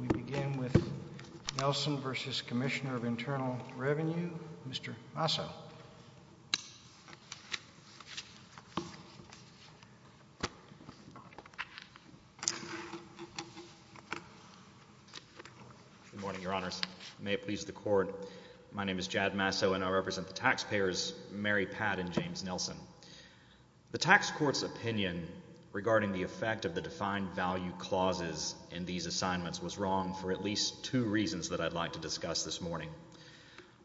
We begin with Nelson v. Commissioner of Internal Revenue, Mr. Masso. Good morning, Your Honors. May it please the Court, my name is Jad Masso and I represent the taxpayers, Mary Pat and James Nelson. The tax court's opinion regarding the effect of the defined value clauses in these assignments was wrong for at least two reasons that I'd like to discuss this morning.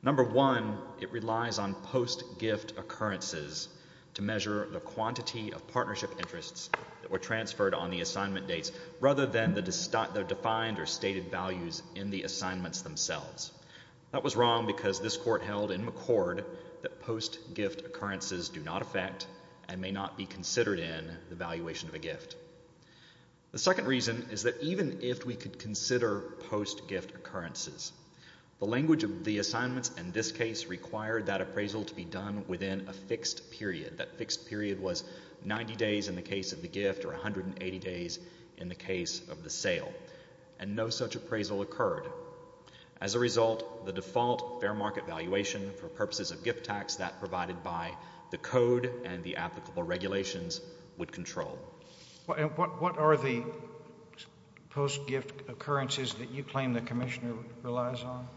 Number one, it relies on post-gift occurrences to measure the quantity of partnership interests that were transferred on the assignment dates rather than the defined or stated values in the assignments themselves. That was wrong because this Court held in McCord that post-gift occurrences do not affect and may not be considered in the valuation of a gift. The second reason is that even if we could consider post-gift occurrences, the language of the assignments in this case required that appraisal to be done within a fixed period. That fixed period was 90 days in the case of the gift or 180 days in the case of the sale, and no such appraisal occurred. As a result, the default fair market valuation for purposes of gift tax that provided by the Code and the applicable regulations would control. And what are the post-gift occurrences that you claim the Commissioner relies on?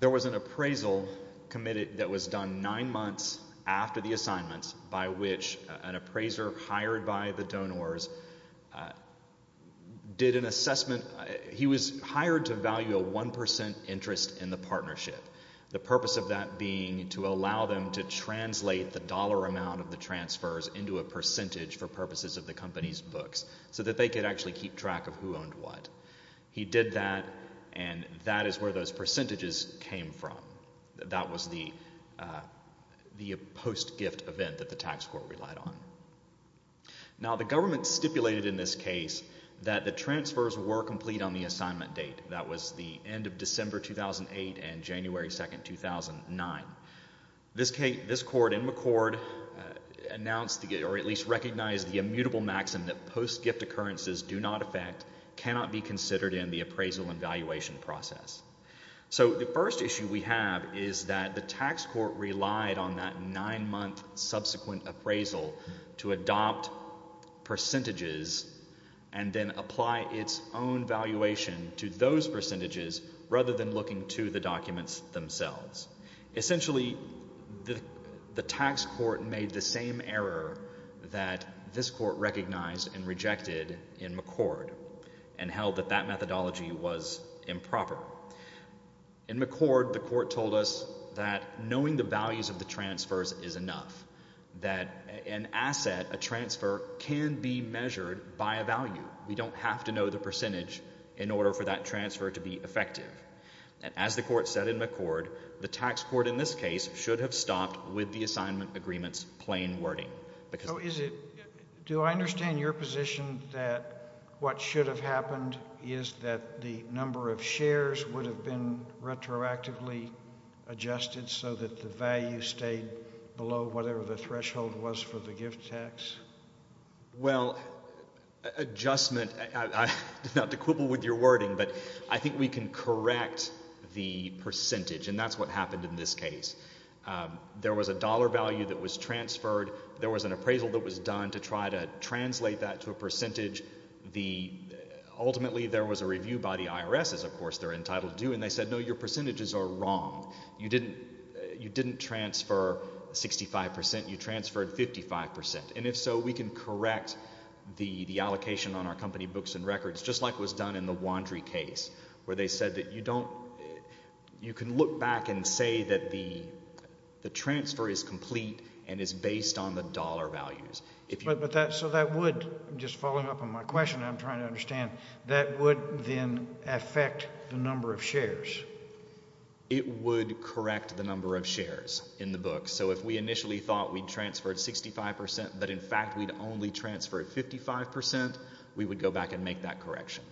There was an appraisal committed that was done nine months after the assignments by which an appraiser hired by the donors did an assessment. He was hired to value a 1% interest in the partnership, the purpose of that being to allow them to translate the dollar amount of the transfers into a percentage for purposes of the company's books so that they could actually keep track of who owned what. He did that, and that is where those percentages came from. That was the post-gift event that the Tax Court relied on. Now, the government stipulated in this case that the transfers were complete on the assignment date. That was the end of December 2008 and January 2, 2009. This Court in McCord announced, or at least recognized, the immutable maxim that post-gift occurrences do not affect, cannot be considered in the appraisal and valuation process. So the first issue we have is that the Tax Court relied on that nine-month subsequent appraisal to determine whether or not the appraisal was valid. It relied on the government to adopt percentages and then apply its own valuation to those percentages rather than looking to the documents themselves. Essentially, the Tax Court made the same error that this Court recognized and rejected in McCord and held that that methodology was improper. In McCord, the Court told us that knowing the values of the transfers is enough, that an asset, a transfer, can be measured by a value. We don't have to know the percentage in order for that transfer to be effective. And as the Court said in McCord, the Tax Court in this case should have stopped with the assignment agreement's plain wording. Do I understand your position that what should have happened is that the number of shares would have been retroactively adjusted so that the value stayed below whatever the threshold was for the gift tax? Well, adjustment, not to quibble with your wording, but I think we can correct the percentage, and that's what happened in this case. There was a dollar value that was transferred. There was an appraisal that was done to try to translate that to a percentage. Ultimately, there was a review by the IRS, as of course they're entitled to do, and they said, no, your percentages are wrong. You didn't transfer 65 percent. You transferred 55 percent. And if so, we can correct the allocation on our company books and records, just like was done in the Wandry case, where they said that you can look back and say that the transfer is complete and is based on the dollar values. So that would, just following up on my question, I'm trying to understand, that would then affect the number of shares? It would correct the number of shares in the book. So if we initially thought we'd transferred 65 percent, but in fact we'd only transferred 55 percent, we would go back and make that correction.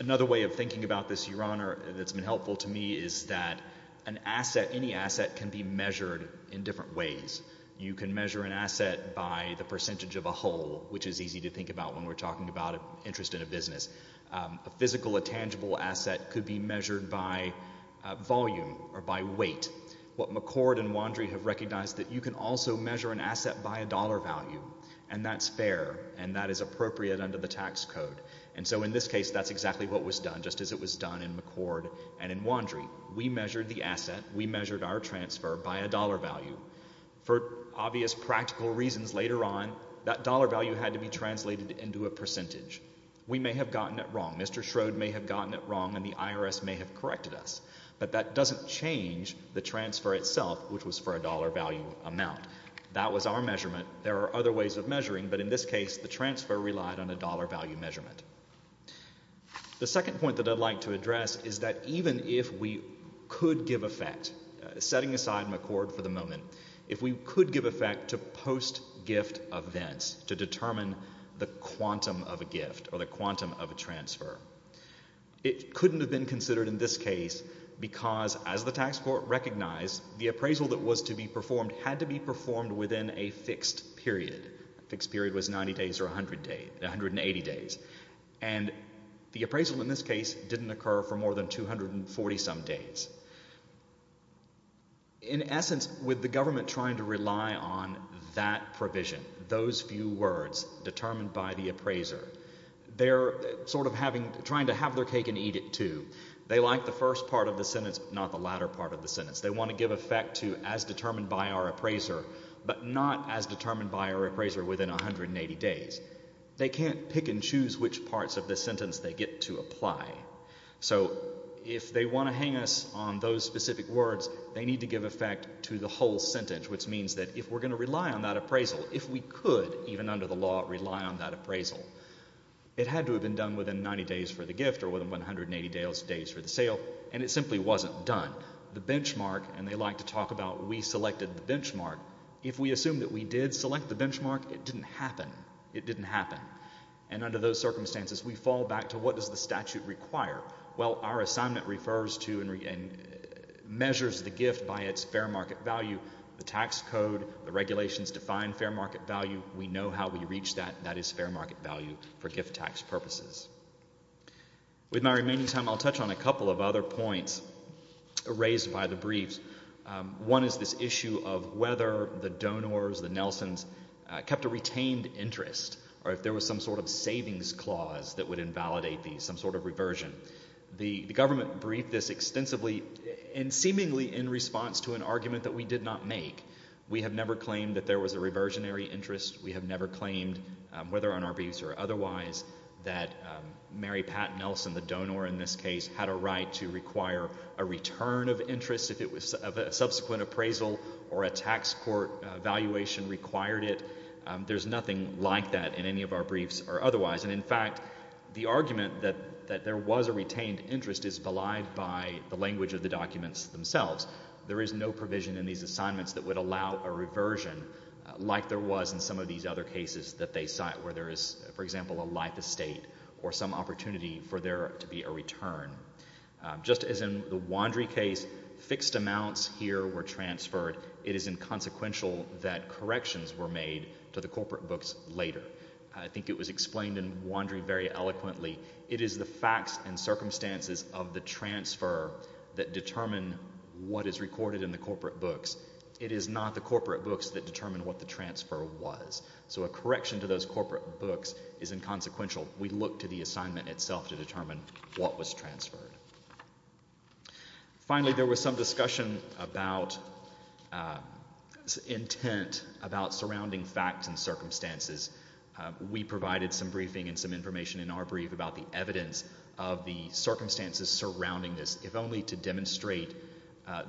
Another way of thinking about this, Your Honor, that's been helpful to me is that an asset, any asset, can be measured in different ways. You can measure an asset by the percentage of a whole, which is easy to think about when we're talking about an interest in a business. A physical, a tangible asset could be measured by volume or by weight. What McCord and Wandry have recognized is that you can also measure an asset by a dollar value, and that's fair and that is appropriate under the tax code. And so in this case, that's exactly what was done, just as it was done in McCord and in Wandry. We measured the asset. We measured our transfer by a dollar value. For obvious practical reasons, later on, that dollar value had to be translated into a percentage. We may have gotten it wrong. Mr. Schroed may have gotten it wrong, and the IRS may have corrected us. But that doesn't change the transfer itself, which was for a dollar value amount. That was our measurement. There are other ways of measuring, but in this case, the transfer relied on a dollar value measurement. The second point that I'd like to address is that even if we could give effect, setting aside McCord for the moment, if we could give effect to post-gift events to determine the quantum of a gift or the quantum of a transfer, it couldn't have been considered in this case because, as the tax court recognized, the appraisal that was to be performed had to be performed within a fixed period. A fixed period was 90 days or 180 days. And the appraisal in this case didn't occur for more than 240-some days. In essence, with the government trying to rely on that provision, those few words, determined by the appraiser, they're sort of trying to have their cake and eat it, too. They like the first part of the sentence, but not the latter part of the sentence. They want to give effect to as determined by our appraiser, but not as determined by our appraiser within 180 days. They can't pick and choose which parts of the sentence they get to apply. So if they want to hang us on those specific words, they need to give effect to the whole sentence, which means that if we're going to rely on that appraisal, if we could even under the law rely on that appraisal, it had to have been done within 90 days for the gift or within 180 days for the sale, and it simply wasn't done. The benchmark, and they like to talk about we selected the benchmark, if we assume that we did select the benchmark, it didn't happen. It didn't happen. And under those circumstances, we fall back to what does the statute require? Well, our assignment refers to and measures the gift by its fair market value. The tax code, the regulations define fair market value. We know how we reach that. That is fair market value for gift tax purposes. With my remaining time, I'll touch on a couple of other points raised by the briefs. One is this issue of whether the donors, the Nelsons, kept a retained interest, or if there was some sort of savings clause that would invalidate these, some sort of reversion. The government briefed this extensively and seemingly in response to an argument that we did not make. We have never claimed that there was a reversionary interest. We have never claimed, whether on our briefs or otherwise, that Mary Pat Nelson, the donor in this case, had a right to require a return of interest if a subsequent appraisal or a tax court valuation required it. There's nothing like that in any of our briefs or otherwise. And in fact, the argument that there was a retained interest is belied by the language of the documents themselves. There is no provision in these assignments that would allow a reversion like there was in some of these other cases that they cite, where there is, for example, a life estate or some opportunity for there to be a return. Just as in the Wandry case, fixed amounts here were transferred. It is inconsequential that corrections were made to the corporate books later. I think it was explained in Wandry very eloquently. It is the facts and circumstances of the transfer that determine what is recorded in the corporate books. It is not the corporate books that determine what the transfer was. So a correction to those corporate books is inconsequential. We look to the assignment itself to determine what was transferred. Finally, there was some discussion about intent, about surrounding facts and circumstances. We provided some briefing and some information in our brief about the evidence of the circumstances surrounding this, if only to demonstrate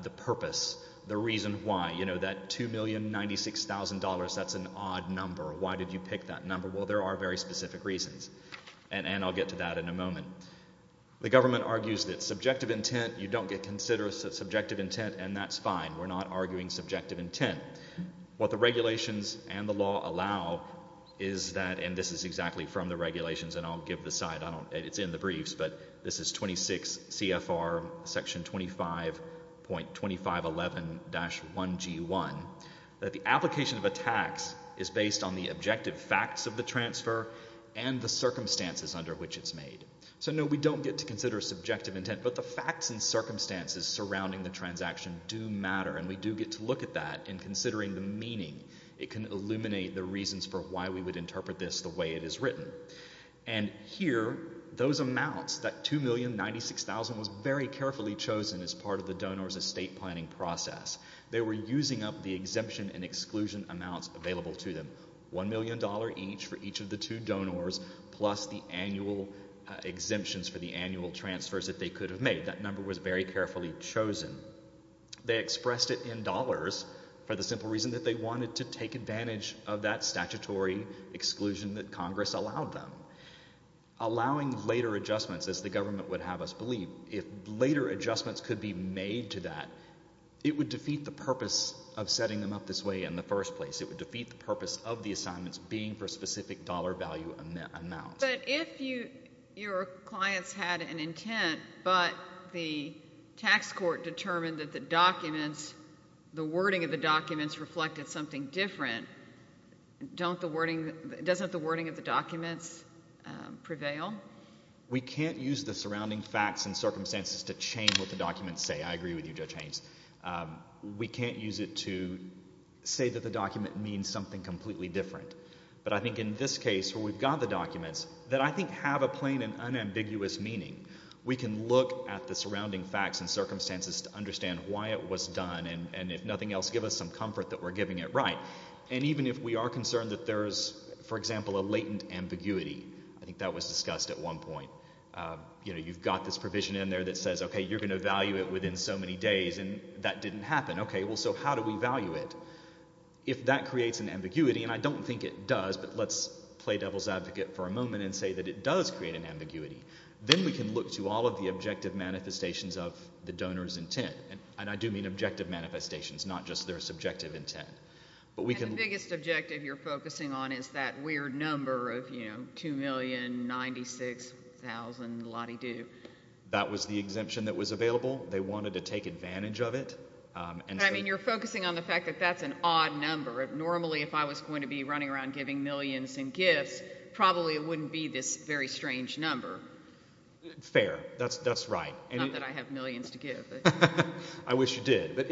the purpose, the reason why. You know, that $2,096,000, that's an odd number. Why did you pick that number? Well, there are very specific reasons, and I'll get to that in a moment. The government argues that subjective intent, you don't get considerate subjective intent, and that's fine. We're not arguing subjective intent. What the regulations and the law allow is that, and this is exactly from the regulations, and I'll give the site, it's in the briefs, but this is 26 CFR Section 25.2511-1G1, that the application of a tax is based on the objective facts of the transfer and the circumstances under which it's made. So no, we don't get to consider subjective intent, but the facts and circumstances surrounding the transaction do matter, and we do get to look at that in considering the meaning. It can illuminate the reasons for why we would interpret this the way it is written. And here, those amounts, that $2,096,000, was very carefully chosen as part of the donor's estate planning process. They were using up the exemption and exclusion amounts available to them, $1,000,000 each for each of the two donors, plus the annual exemptions for the annual transfers that they could have made. That number was very carefully chosen. They expressed it in dollars for the simple reason that they wanted to take advantage of that statutory exclusion that Congress allowed them. Allowing later adjustments, as the government would have us believe, if later adjustments could be made to that, it would defeat the purpose of setting them up this way in the first place. It would defeat the purpose of the assignments being for a specific dollar value amount. But if your clients had an intent, but the tax court determined that the documents, the wording of the documents, reflected something different, doesn't the wording of the documents prevail? We can't use the surrounding facts and circumstances to change what the documents say. I agree with you, Judge Haynes. We can't use it to say that the document means something completely different. But I think in this case, where we've got the documents, that I think have a plain and unambiguous meaning, we can look at the surrounding facts and circumstances to understand why it was done and if nothing else, give us some comfort that we're giving it right. And even if we are concerned that there's, for example, a latent ambiguity, I think that was discussed at one point. You've got this provision in there that says, okay, you're going to value it within so many days, and that didn't happen. Okay, well, so how do we value it? If that creates an ambiguity, and I don't think it does, but let's play devil's advocate for a moment and say that it does create an ambiguity, then we can look to all of the objective manifestations of the donor's intent. And I do mean objective manifestations, not just their subjective intent. And the biggest objective you're focusing on is that weird number of 2,096,000 la-dee-doo. That was the exemption that was available. They wanted to take advantage of it. I mean, you're focusing on the fact that that's an odd number. Normally, if I was going to be running around giving millions in gifts, probably it wouldn't be this very strange number. Fair. That's right. Not that I have millions to give. I wish you did. But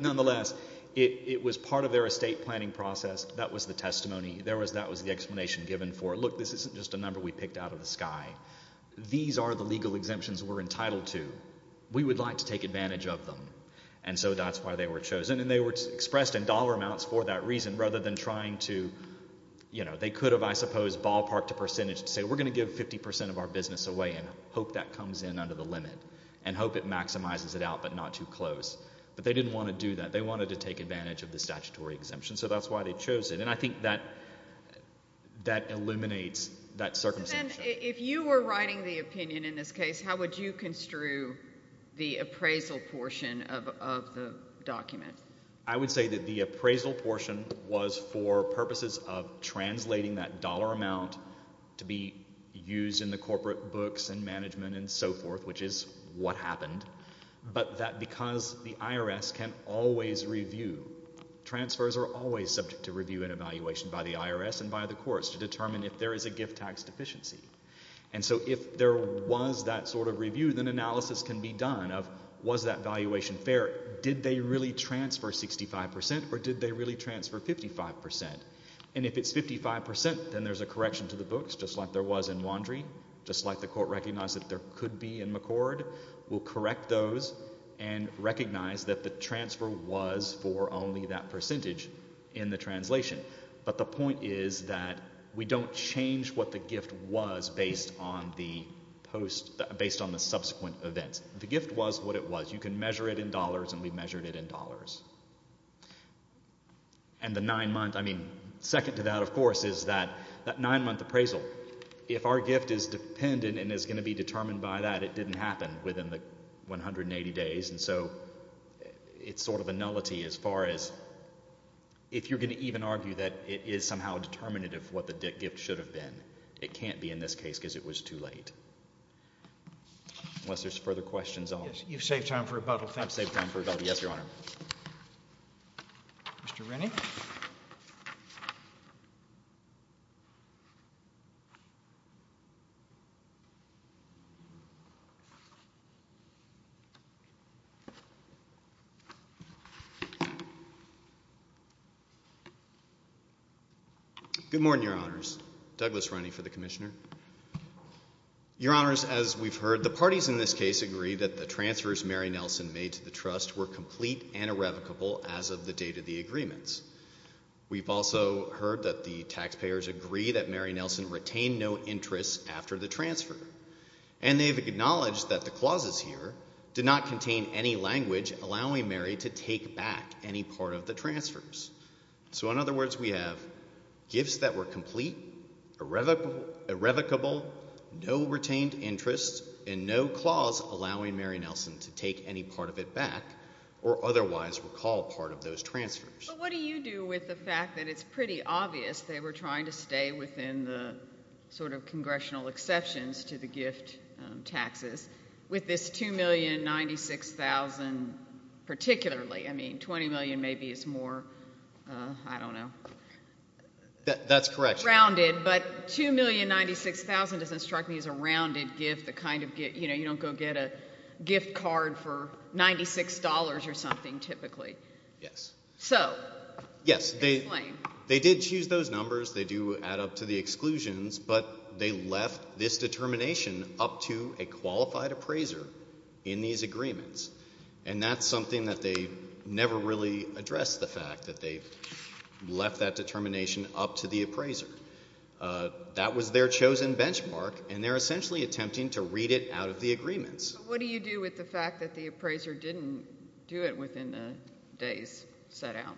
nonetheless, it was part of their estate planning process. That was the testimony. That was the explanation given for, look, this isn't just a number we picked out of the sky. These are the legal exemptions we're entitled to. We would like to take advantage of them. And so that's why they were chosen. And they were expressed in dollar amounts for that reason rather than trying to, you know, they could have, I suppose, ballparked a percentage to say we're going to give 50 percent of our business away and hope that comes in under the limit and hope it maximizes it out but not too close. But they didn't want to do that. They wanted to take advantage of the statutory exemption. So that's why they chose it. And I think that eliminates that circumstance. If you were writing the opinion in this case, how would you construe the appraisal portion of the document? I would say that the appraisal portion was for purposes of translating that dollar amount to be used in the corporate books and management and so forth, which is what happened. But that because the IRS can always review, transfers are always subject to review and evaluation by the IRS and by the courts to determine if there is a gift tax deficiency. And so if there was that sort of review, then analysis can be done of was that valuation fair? Did they really transfer 65 percent or did they really transfer 55 percent? And if it's 55 percent, then there's a correction to the books just like there was in Wandry, just like the court recognized that there could be in McCord. We'll correct those and recognize that the transfer was for only that percentage in the translation. But the point is that we don't change what the gift was based on the subsequent events. The gift was what it was. You can measure it in dollars, and we measured it in dollars. And the nine-month, I mean, second to that, of course, is that nine-month appraisal. So if our gift is dependent and is going to be determined by that, it didn't happen within the 180 days. And so it's sort of a nullity as far as if you're going to even argue that it is somehow determinative of what the gift should have been. It can't be in this case because it was too late. Unless there's further questions. You've saved time for rebuttal. Thank you. I've saved time for rebuttal. Yes, Your Honor. Mr. Rennie. Good morning, Your Honors. Douglas Rennie for the Commissioner. Your Honors, as we've heard, the parties in this case agree that the transfers Mary Nelson made to the trust were complete and irrevocable as of the date of the agreements. We've also heard that the taxpayers agree that Mary Nelson retained no interest after the transfer. And they've acknowledged that the clauses here do not contain any language allowing Mary to take back any part of the transfers. So in other words, we have gifts that were complete, irrevocable, no retained interest, and no clause allowing Mary Nelson to take any part of it back or otherwise recall part of those transfers. But what do you do with the fact that it's pretty obvious they were trying to stay within the sort of congressional exceptions to the gift taxes with this $2,096,000 particularly? I mean $20 million maybe is more, I don't know. That's correct. It's rounded, but $2,096,000 doesn't strike me as a rounded gift, the kind of gift, you know, you don't go get a gift card for $96 or something typically. Yes. So, explain. Yes, they did choose those numbers. They do add up to the exclusions, but they left this determination up to a qualified appraiser in these agreements. And that's something that they never really addressed, the fact that they left that determination up to the appraiser. That was their chosen benchmark, and they're essentially attempting to read it out of the agreements. But what do you do with the fact that the appraiser didn't do it within the days set out?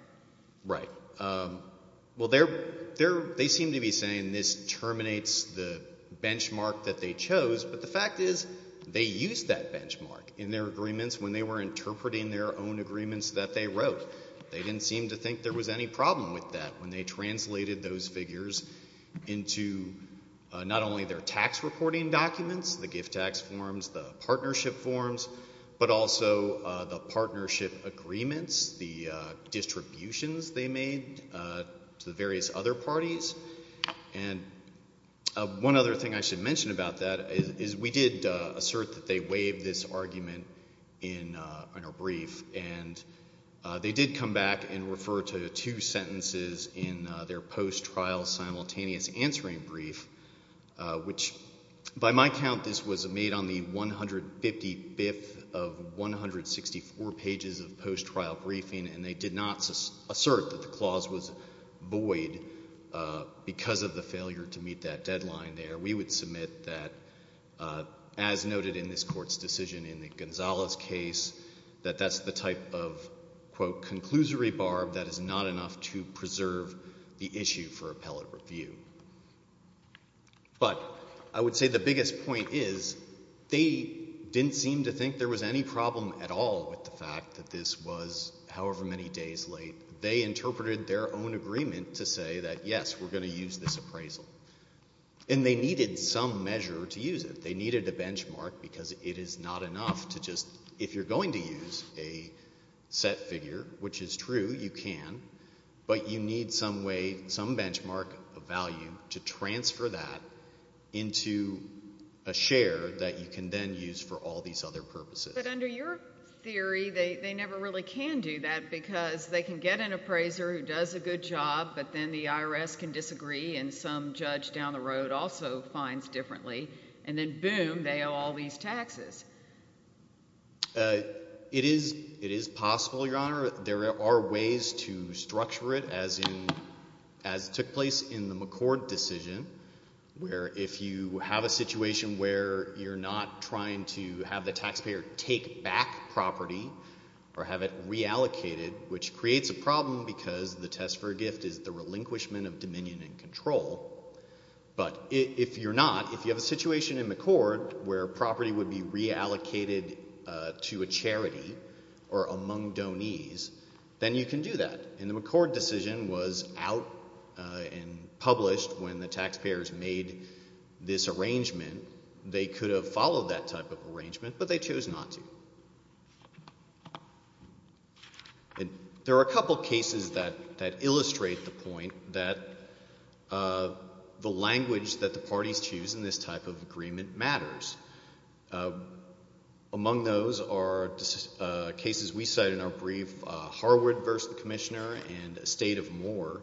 Right. Well, they seem to be saying this terminates the benchmark that they chose, but the fact is they used that benchmark in their agreements when they were interpreting their own agreements that they wrote. They didn't seem to think there was any problem with that when they translated those figures into not only their tax reporting documents, the gift tax forms, the partnership forms, but also the partnership agreements, the distributions they made to the various other parties. And one other thing I should mention about that is we did assert that they waived this argument in a brief, and they did come back and refer to two sentences in their post-trial simultaneous answering brief, which by my count this was made on the 155th of 164 pages of post-trial briefing, and they did not assert that the clause was void because of the failure to meet that deadline there. We would submit that, as noted in this Court's decision in the Gonzales case, that that's the type of, quote, conclusory barb that is not enough to preserve the issue for appellate review. But I would say the biggest point is they didn't seem to think there was any problem at all with the fact that this was, however many days late, they interpreted their own agreement to say that, yes, we're going to use this appraisal. And they needed some measure to use it. They needed a benchmark because it is not enough to just, if you're going to use a set figure, which is true, you can, but you need some way, some benchmark of value to transfer that into a share that you can then use for all these other purposes. But under your theory, they never really can do that because they can get an appraiser who does a good job, but then the IRS can disagree and some judge down the road also finds differently. And then, boom, they owe all these taxes. It is possible, Your Honor. There are ways to structure it, as took place in the McCord decision, where if you have a situation where you're not trying to have the taxpayer take back property or have it reallocated, which creates a problem because the test for a gift is the relinquishment of dominion and control. But if you're not, if you have a situation in McCord where property would be reallocated to a charity or among donees, then you can do that. And the McCord decision was out and published when the taxpayers made this arrangement. They could have followed that type of arrangement, but they chose not to. There are a couple cases that illustrate the point that the language that the parties choose in this type of agreement matters. Among those are cases we cite in our brief, Harwood v. Commissioner and a state of Moore.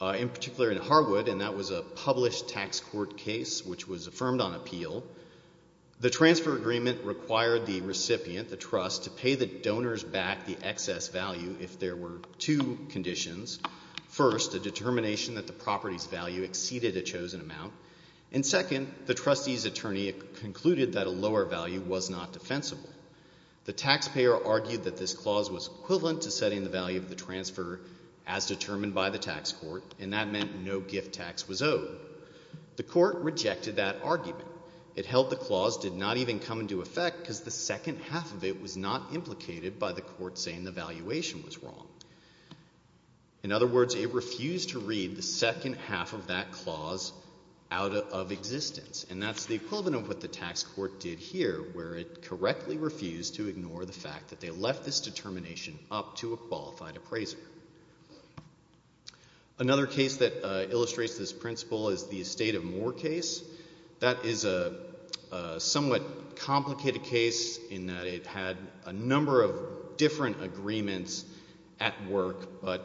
In particular in Harwood, and that was a published tax court case which was affirmed on appeal, the transfer agreement required the recipient, the trust, to pay the donors back the excess value if there were two conditions. First, a determination that the property's value exceeded a chosen amount. And second, the trustee's attorney concluded that a lower value was not defensible. The taxpayer argued that this clause was equivalent to setting the value of the transfer as determined by the tax court, and that meant no gift tax was owed. The court rejected that argument. It held the clause did not even come into effect because the second half of it was not implicated by the court saying the valuation was wrong. In other words, it refused to read the second half of that clause out of existence. And that's the equivalent of what the tax court did here, where it correctly refused to ignore the fact that they left this determination up to a qualified appraiser. Another case that illustrates this principle is the estate of Moore case. That is a somewhat complicated case in that it had a number of different agreements at work, but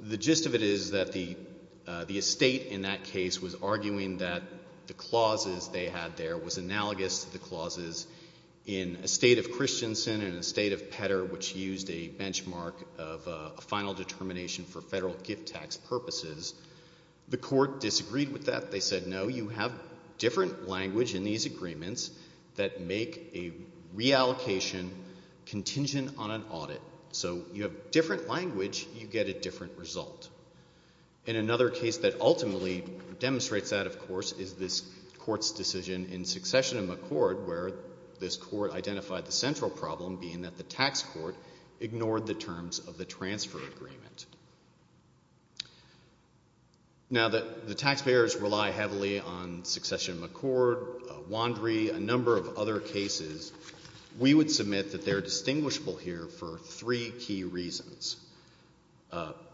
the gist of it is that the estate in that case was arguing that the clauses they had there was analogous to the clauses in estate of Christensen and estate of Petter, which used a benchmark of a final determination for federal gift tax purposes. The court disagreed with that. They said, no, you have different language in these agreements that make a reallocation contingent on an audit. So you have different language, you get a different result. And another case that ultimately demonstrates that, of course, is this court's decision in succession of McCord, where this court identified the central problem being that the tax court ignored the terms of the transfer agreement. Now, the taxpayers rely heavily on succession of McCord, Wandry, a number of other cases. We would submit that they're distinguishable here for three key reasons.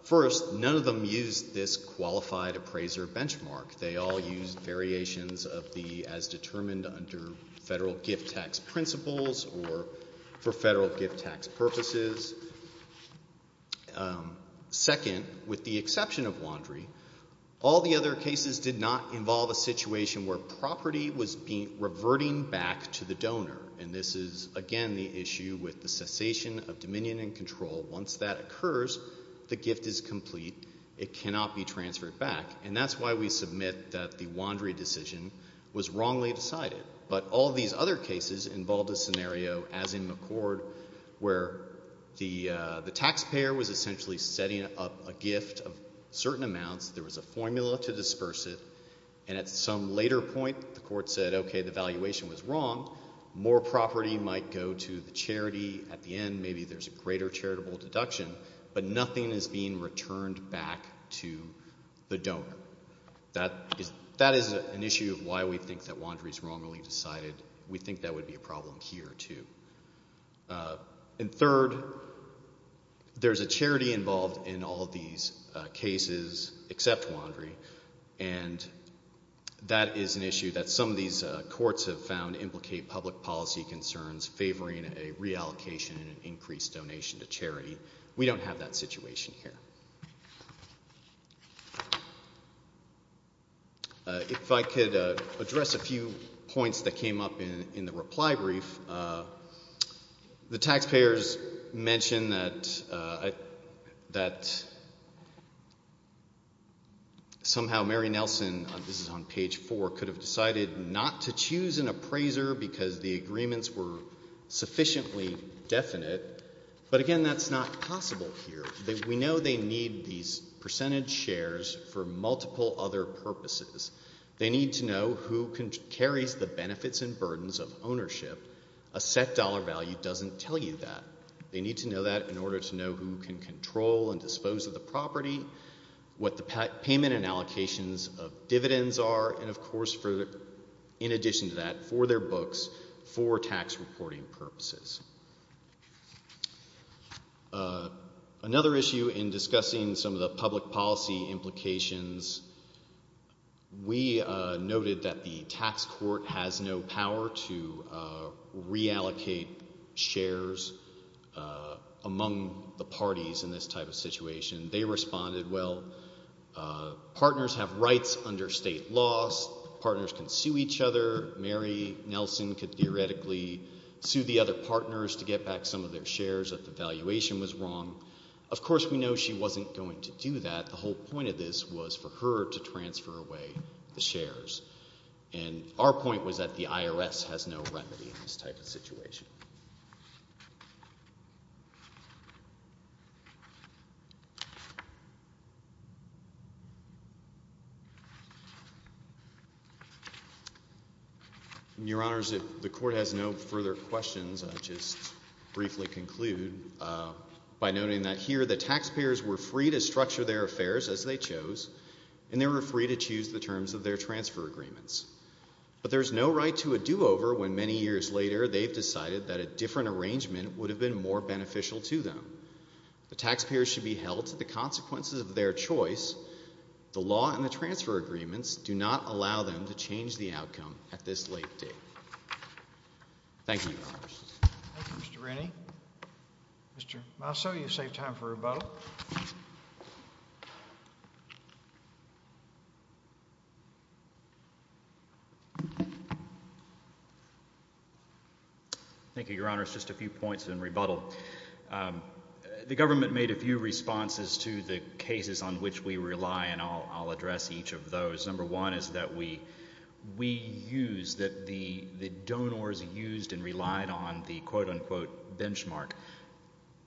First, none of them used this qualified appraiser benchmark. They all used variations of the as determined under federal gift tax principles or for federal gift tax purposes. Second, with the exception of Wandry, all the other cases did not involve a situation where property was reverting back to the donor. And this is, again, the issue with the cessation of dominion and control. Once that occurs, the gift is complete. It cannot be transferred back. And that's why we submit that the Wandry decision was wrongly decided. But all these other cases involved a scenario, as in McCord, where the taxpayer was essentially setting up a gift of certain amounts. There was a formula to disperse it. And at some later point, the court said, okay, the valuation was wrong. More property might go to the charity. At the end, maybe there's a greater charitable deduction. But nothing is being returned back to the donor. So that is an issue of why we think that Wandry is wrongly decided. We think that would be a problem here, too. And third, there's a charity involved in all of these cases except Wandry. And that is an issue that some of these courts have found implicate public policy concerns favoring a reallocation and an increased donation to charity. We don't have that situation here. If I could address a few points that came up in the reply brief, the taxpayers mentioned that somehow Mary Nelson, this is on page 4, could have decided not to choose an appraiser because the agreements were sufficiently definite. But, again, that's not possible here. We know they need these percentage shares for multiple other purposes. They need to know who carries the benefits and burdens of ownership. A set dollar value doesn't tell you that. They need to know that in order to know who can control and dispose of the property, what the payment and allocations of dividends are, and, of course, in addition to that, for their books, for tax reporting purposes. Another issue in discussing some of the public policy implications, we noted that the tax court has no power to reallocate shares among the parties in this type of situation. They responded, well, partners have rights under state laws. Partners can sue each other. Mary Nelson could theoretically sue the other partners to get back some of their shares if the valuation was wrong. Of course, we know she wasn't going to do that. The whole point of this was for her to transfer away the shares. And our point was that the IRS has no remedy in this type of situation. Your Honors, if the court has no further questions, I'll just briefly conclude by noting that here the taxpayers were free to structure their affairs as they chose, and they were free to choose the terms of their transfer agreements. But there's no right to a do-over when many years later they've decided that a different arrangement would have been more beneficial to them. The taxpayers should be held to the consequences of their choice. The law and the transfer agreements do not allow them to change the outcome at this late date. Thank you, Your Honors. Thank you, Mr. Rennie. Mr. Masso, you've saved time for rebuttal. Thank you, Your Honors. Just a few points in rebuttal. The government made a few responses to the cases on which we rely, and I'll address each of those. Number one is that we use – that the donors used and relied on the quote-unquote benchmark.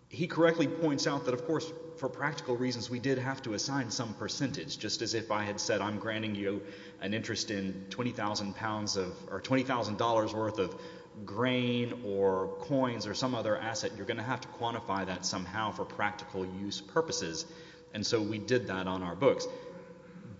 He correctly points out that, of course, for practical reasons we did have to assign some percentage. Just as if I had said I'm granting you an interest in 20,000 pounds of – or $20,000 worth of grain or coins or some other asset, you're going to have to quantify that somehow for practical use purposes. And so we did that on our books.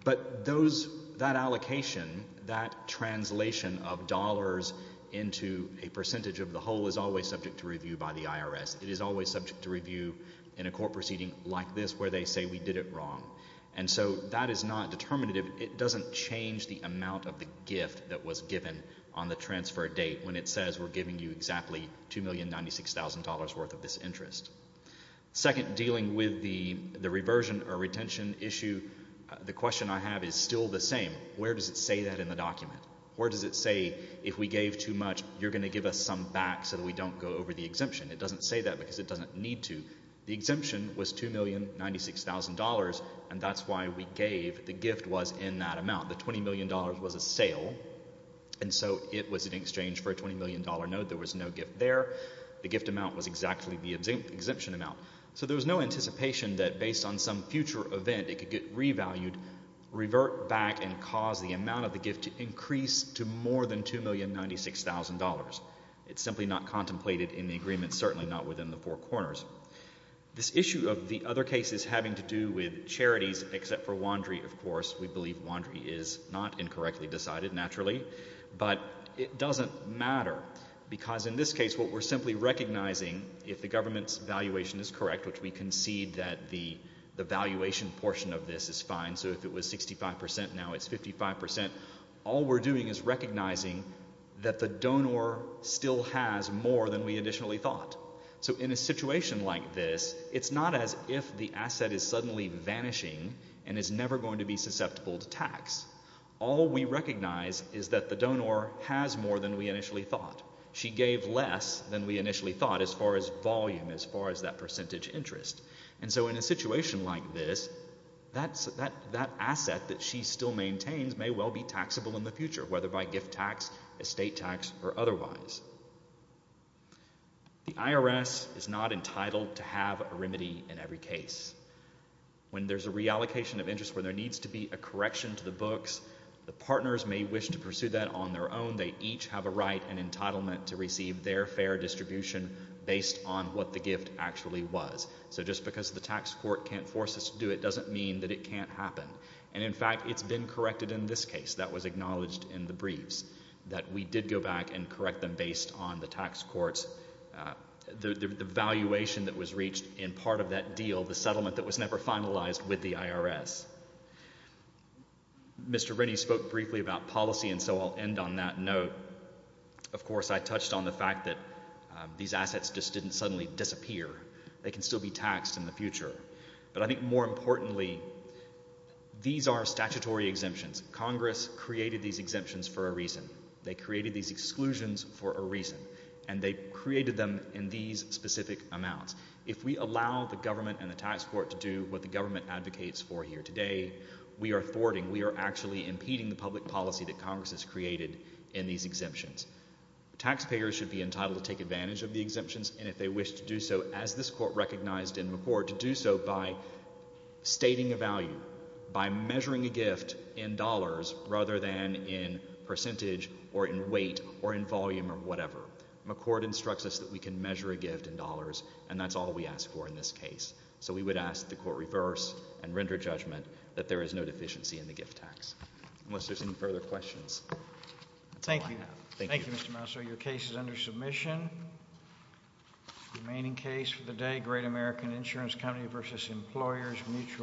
But those – that allocation, that translation of dollars into a percentage of the whole is always subject to review by the IRS. It is always subject to review in a court proceeding like this where they say we did it wrong. And so that is not determinative. It doesn't change the amount of the gift that was given on the transfer date when it says we're giving you exactly $2,096,000 worth of this interest. Second, dealing with the reversion or retention issue, the question I have is still the same. Where does it say that in the document? Where does it say if we gave too much, you're going to give us some back so that we don't go over the exemption? It doesn't say that because it doesn't need to. The exemption was $2,096,000, and that's why we gave – the gift was in that amount. The $20 million was a sale, and so it was in exchange for a $20 million note. There was no gift there. The gift amount was exactly the exemption amount. So there was no anticipation that based on some future event it could get revalued, revert back, and cause the amount of the gift to increase to more than $2,096,000. It's simply not contemplated in the agreement, certainly not within the four corners. This issue of the other cases having to do with charities except for WANDRI, of course, we believe WANDRI is not incorrectly decided, naturally, but it doesn't matter because in this case what we're simply recognizing, if the government's valuation is correct, which we concede that the valuation portion of this is fine, so if it was 65% now it's 55%, all we're doing is recognizing that the donor still has more than we initially thought. So in a situation like this, it's not as if the asset is suddenly vanishing and is never going to be susceptible to tax. All we recognize is that the donor has more than we initially thought. She gave less than we initially thought as far as volume, as far as that percentage interest. And so in a situation like this, that asset that she still maintains may well be taxable in the future, whether by gift tax, estate tax, or otherwise. The IRS is not entitled to have a remedy in every case. When there's a reallocation of interest where there needs to be a correction to the books, the partners may wish to pursue that on their own. They each have a right and entitlement to receive their fair distribution based on what the gift actually was. So just because the tax court can't force us to do it doesn't mean that it can't happen. And, in fact, it's been corrected in this case. That was acknowledged in the briefs, that we did go back and correct them based on the tax court's, the valuation that was reached in part of that deal, the settlement that was never finalized with the IRS. Mr. Rennie spoke briefly about policy, and so I'll end on that note. Of course, I touched on the fact that these assets just didn't suddenly disappear. They can still be taxed in the future. But I think more importantly, these are statutory exemptions. Congress created these exemptions for a reason. They created these exclusions for a reason. And they created them in these specific amounts. If we allow the government and the tax court to do what the government advocates for here today, we are thwarting, we are actually impeding the public policy that Congress has created in these exemptions. Taxpayers should be entitled to take advantage of the exemptions, and if they wish to do so, as this court recognized in McCord, to do so by stating a value, by measuring a gift in dollars rather than in percentage or in weight or in volume or whatever. McCord instructs us that we can measure a gift in dollars, and that's all we ask for in this case. So we would ask the court reverse and render judgment that there is no deficiency in the gift tax. Unless there's any further questions. That's all I have. Thank you. Thank you, Mr. Mouser. Your case is under submission. The remaining case for the day, Great American Insurance Company v. Employers Mutual.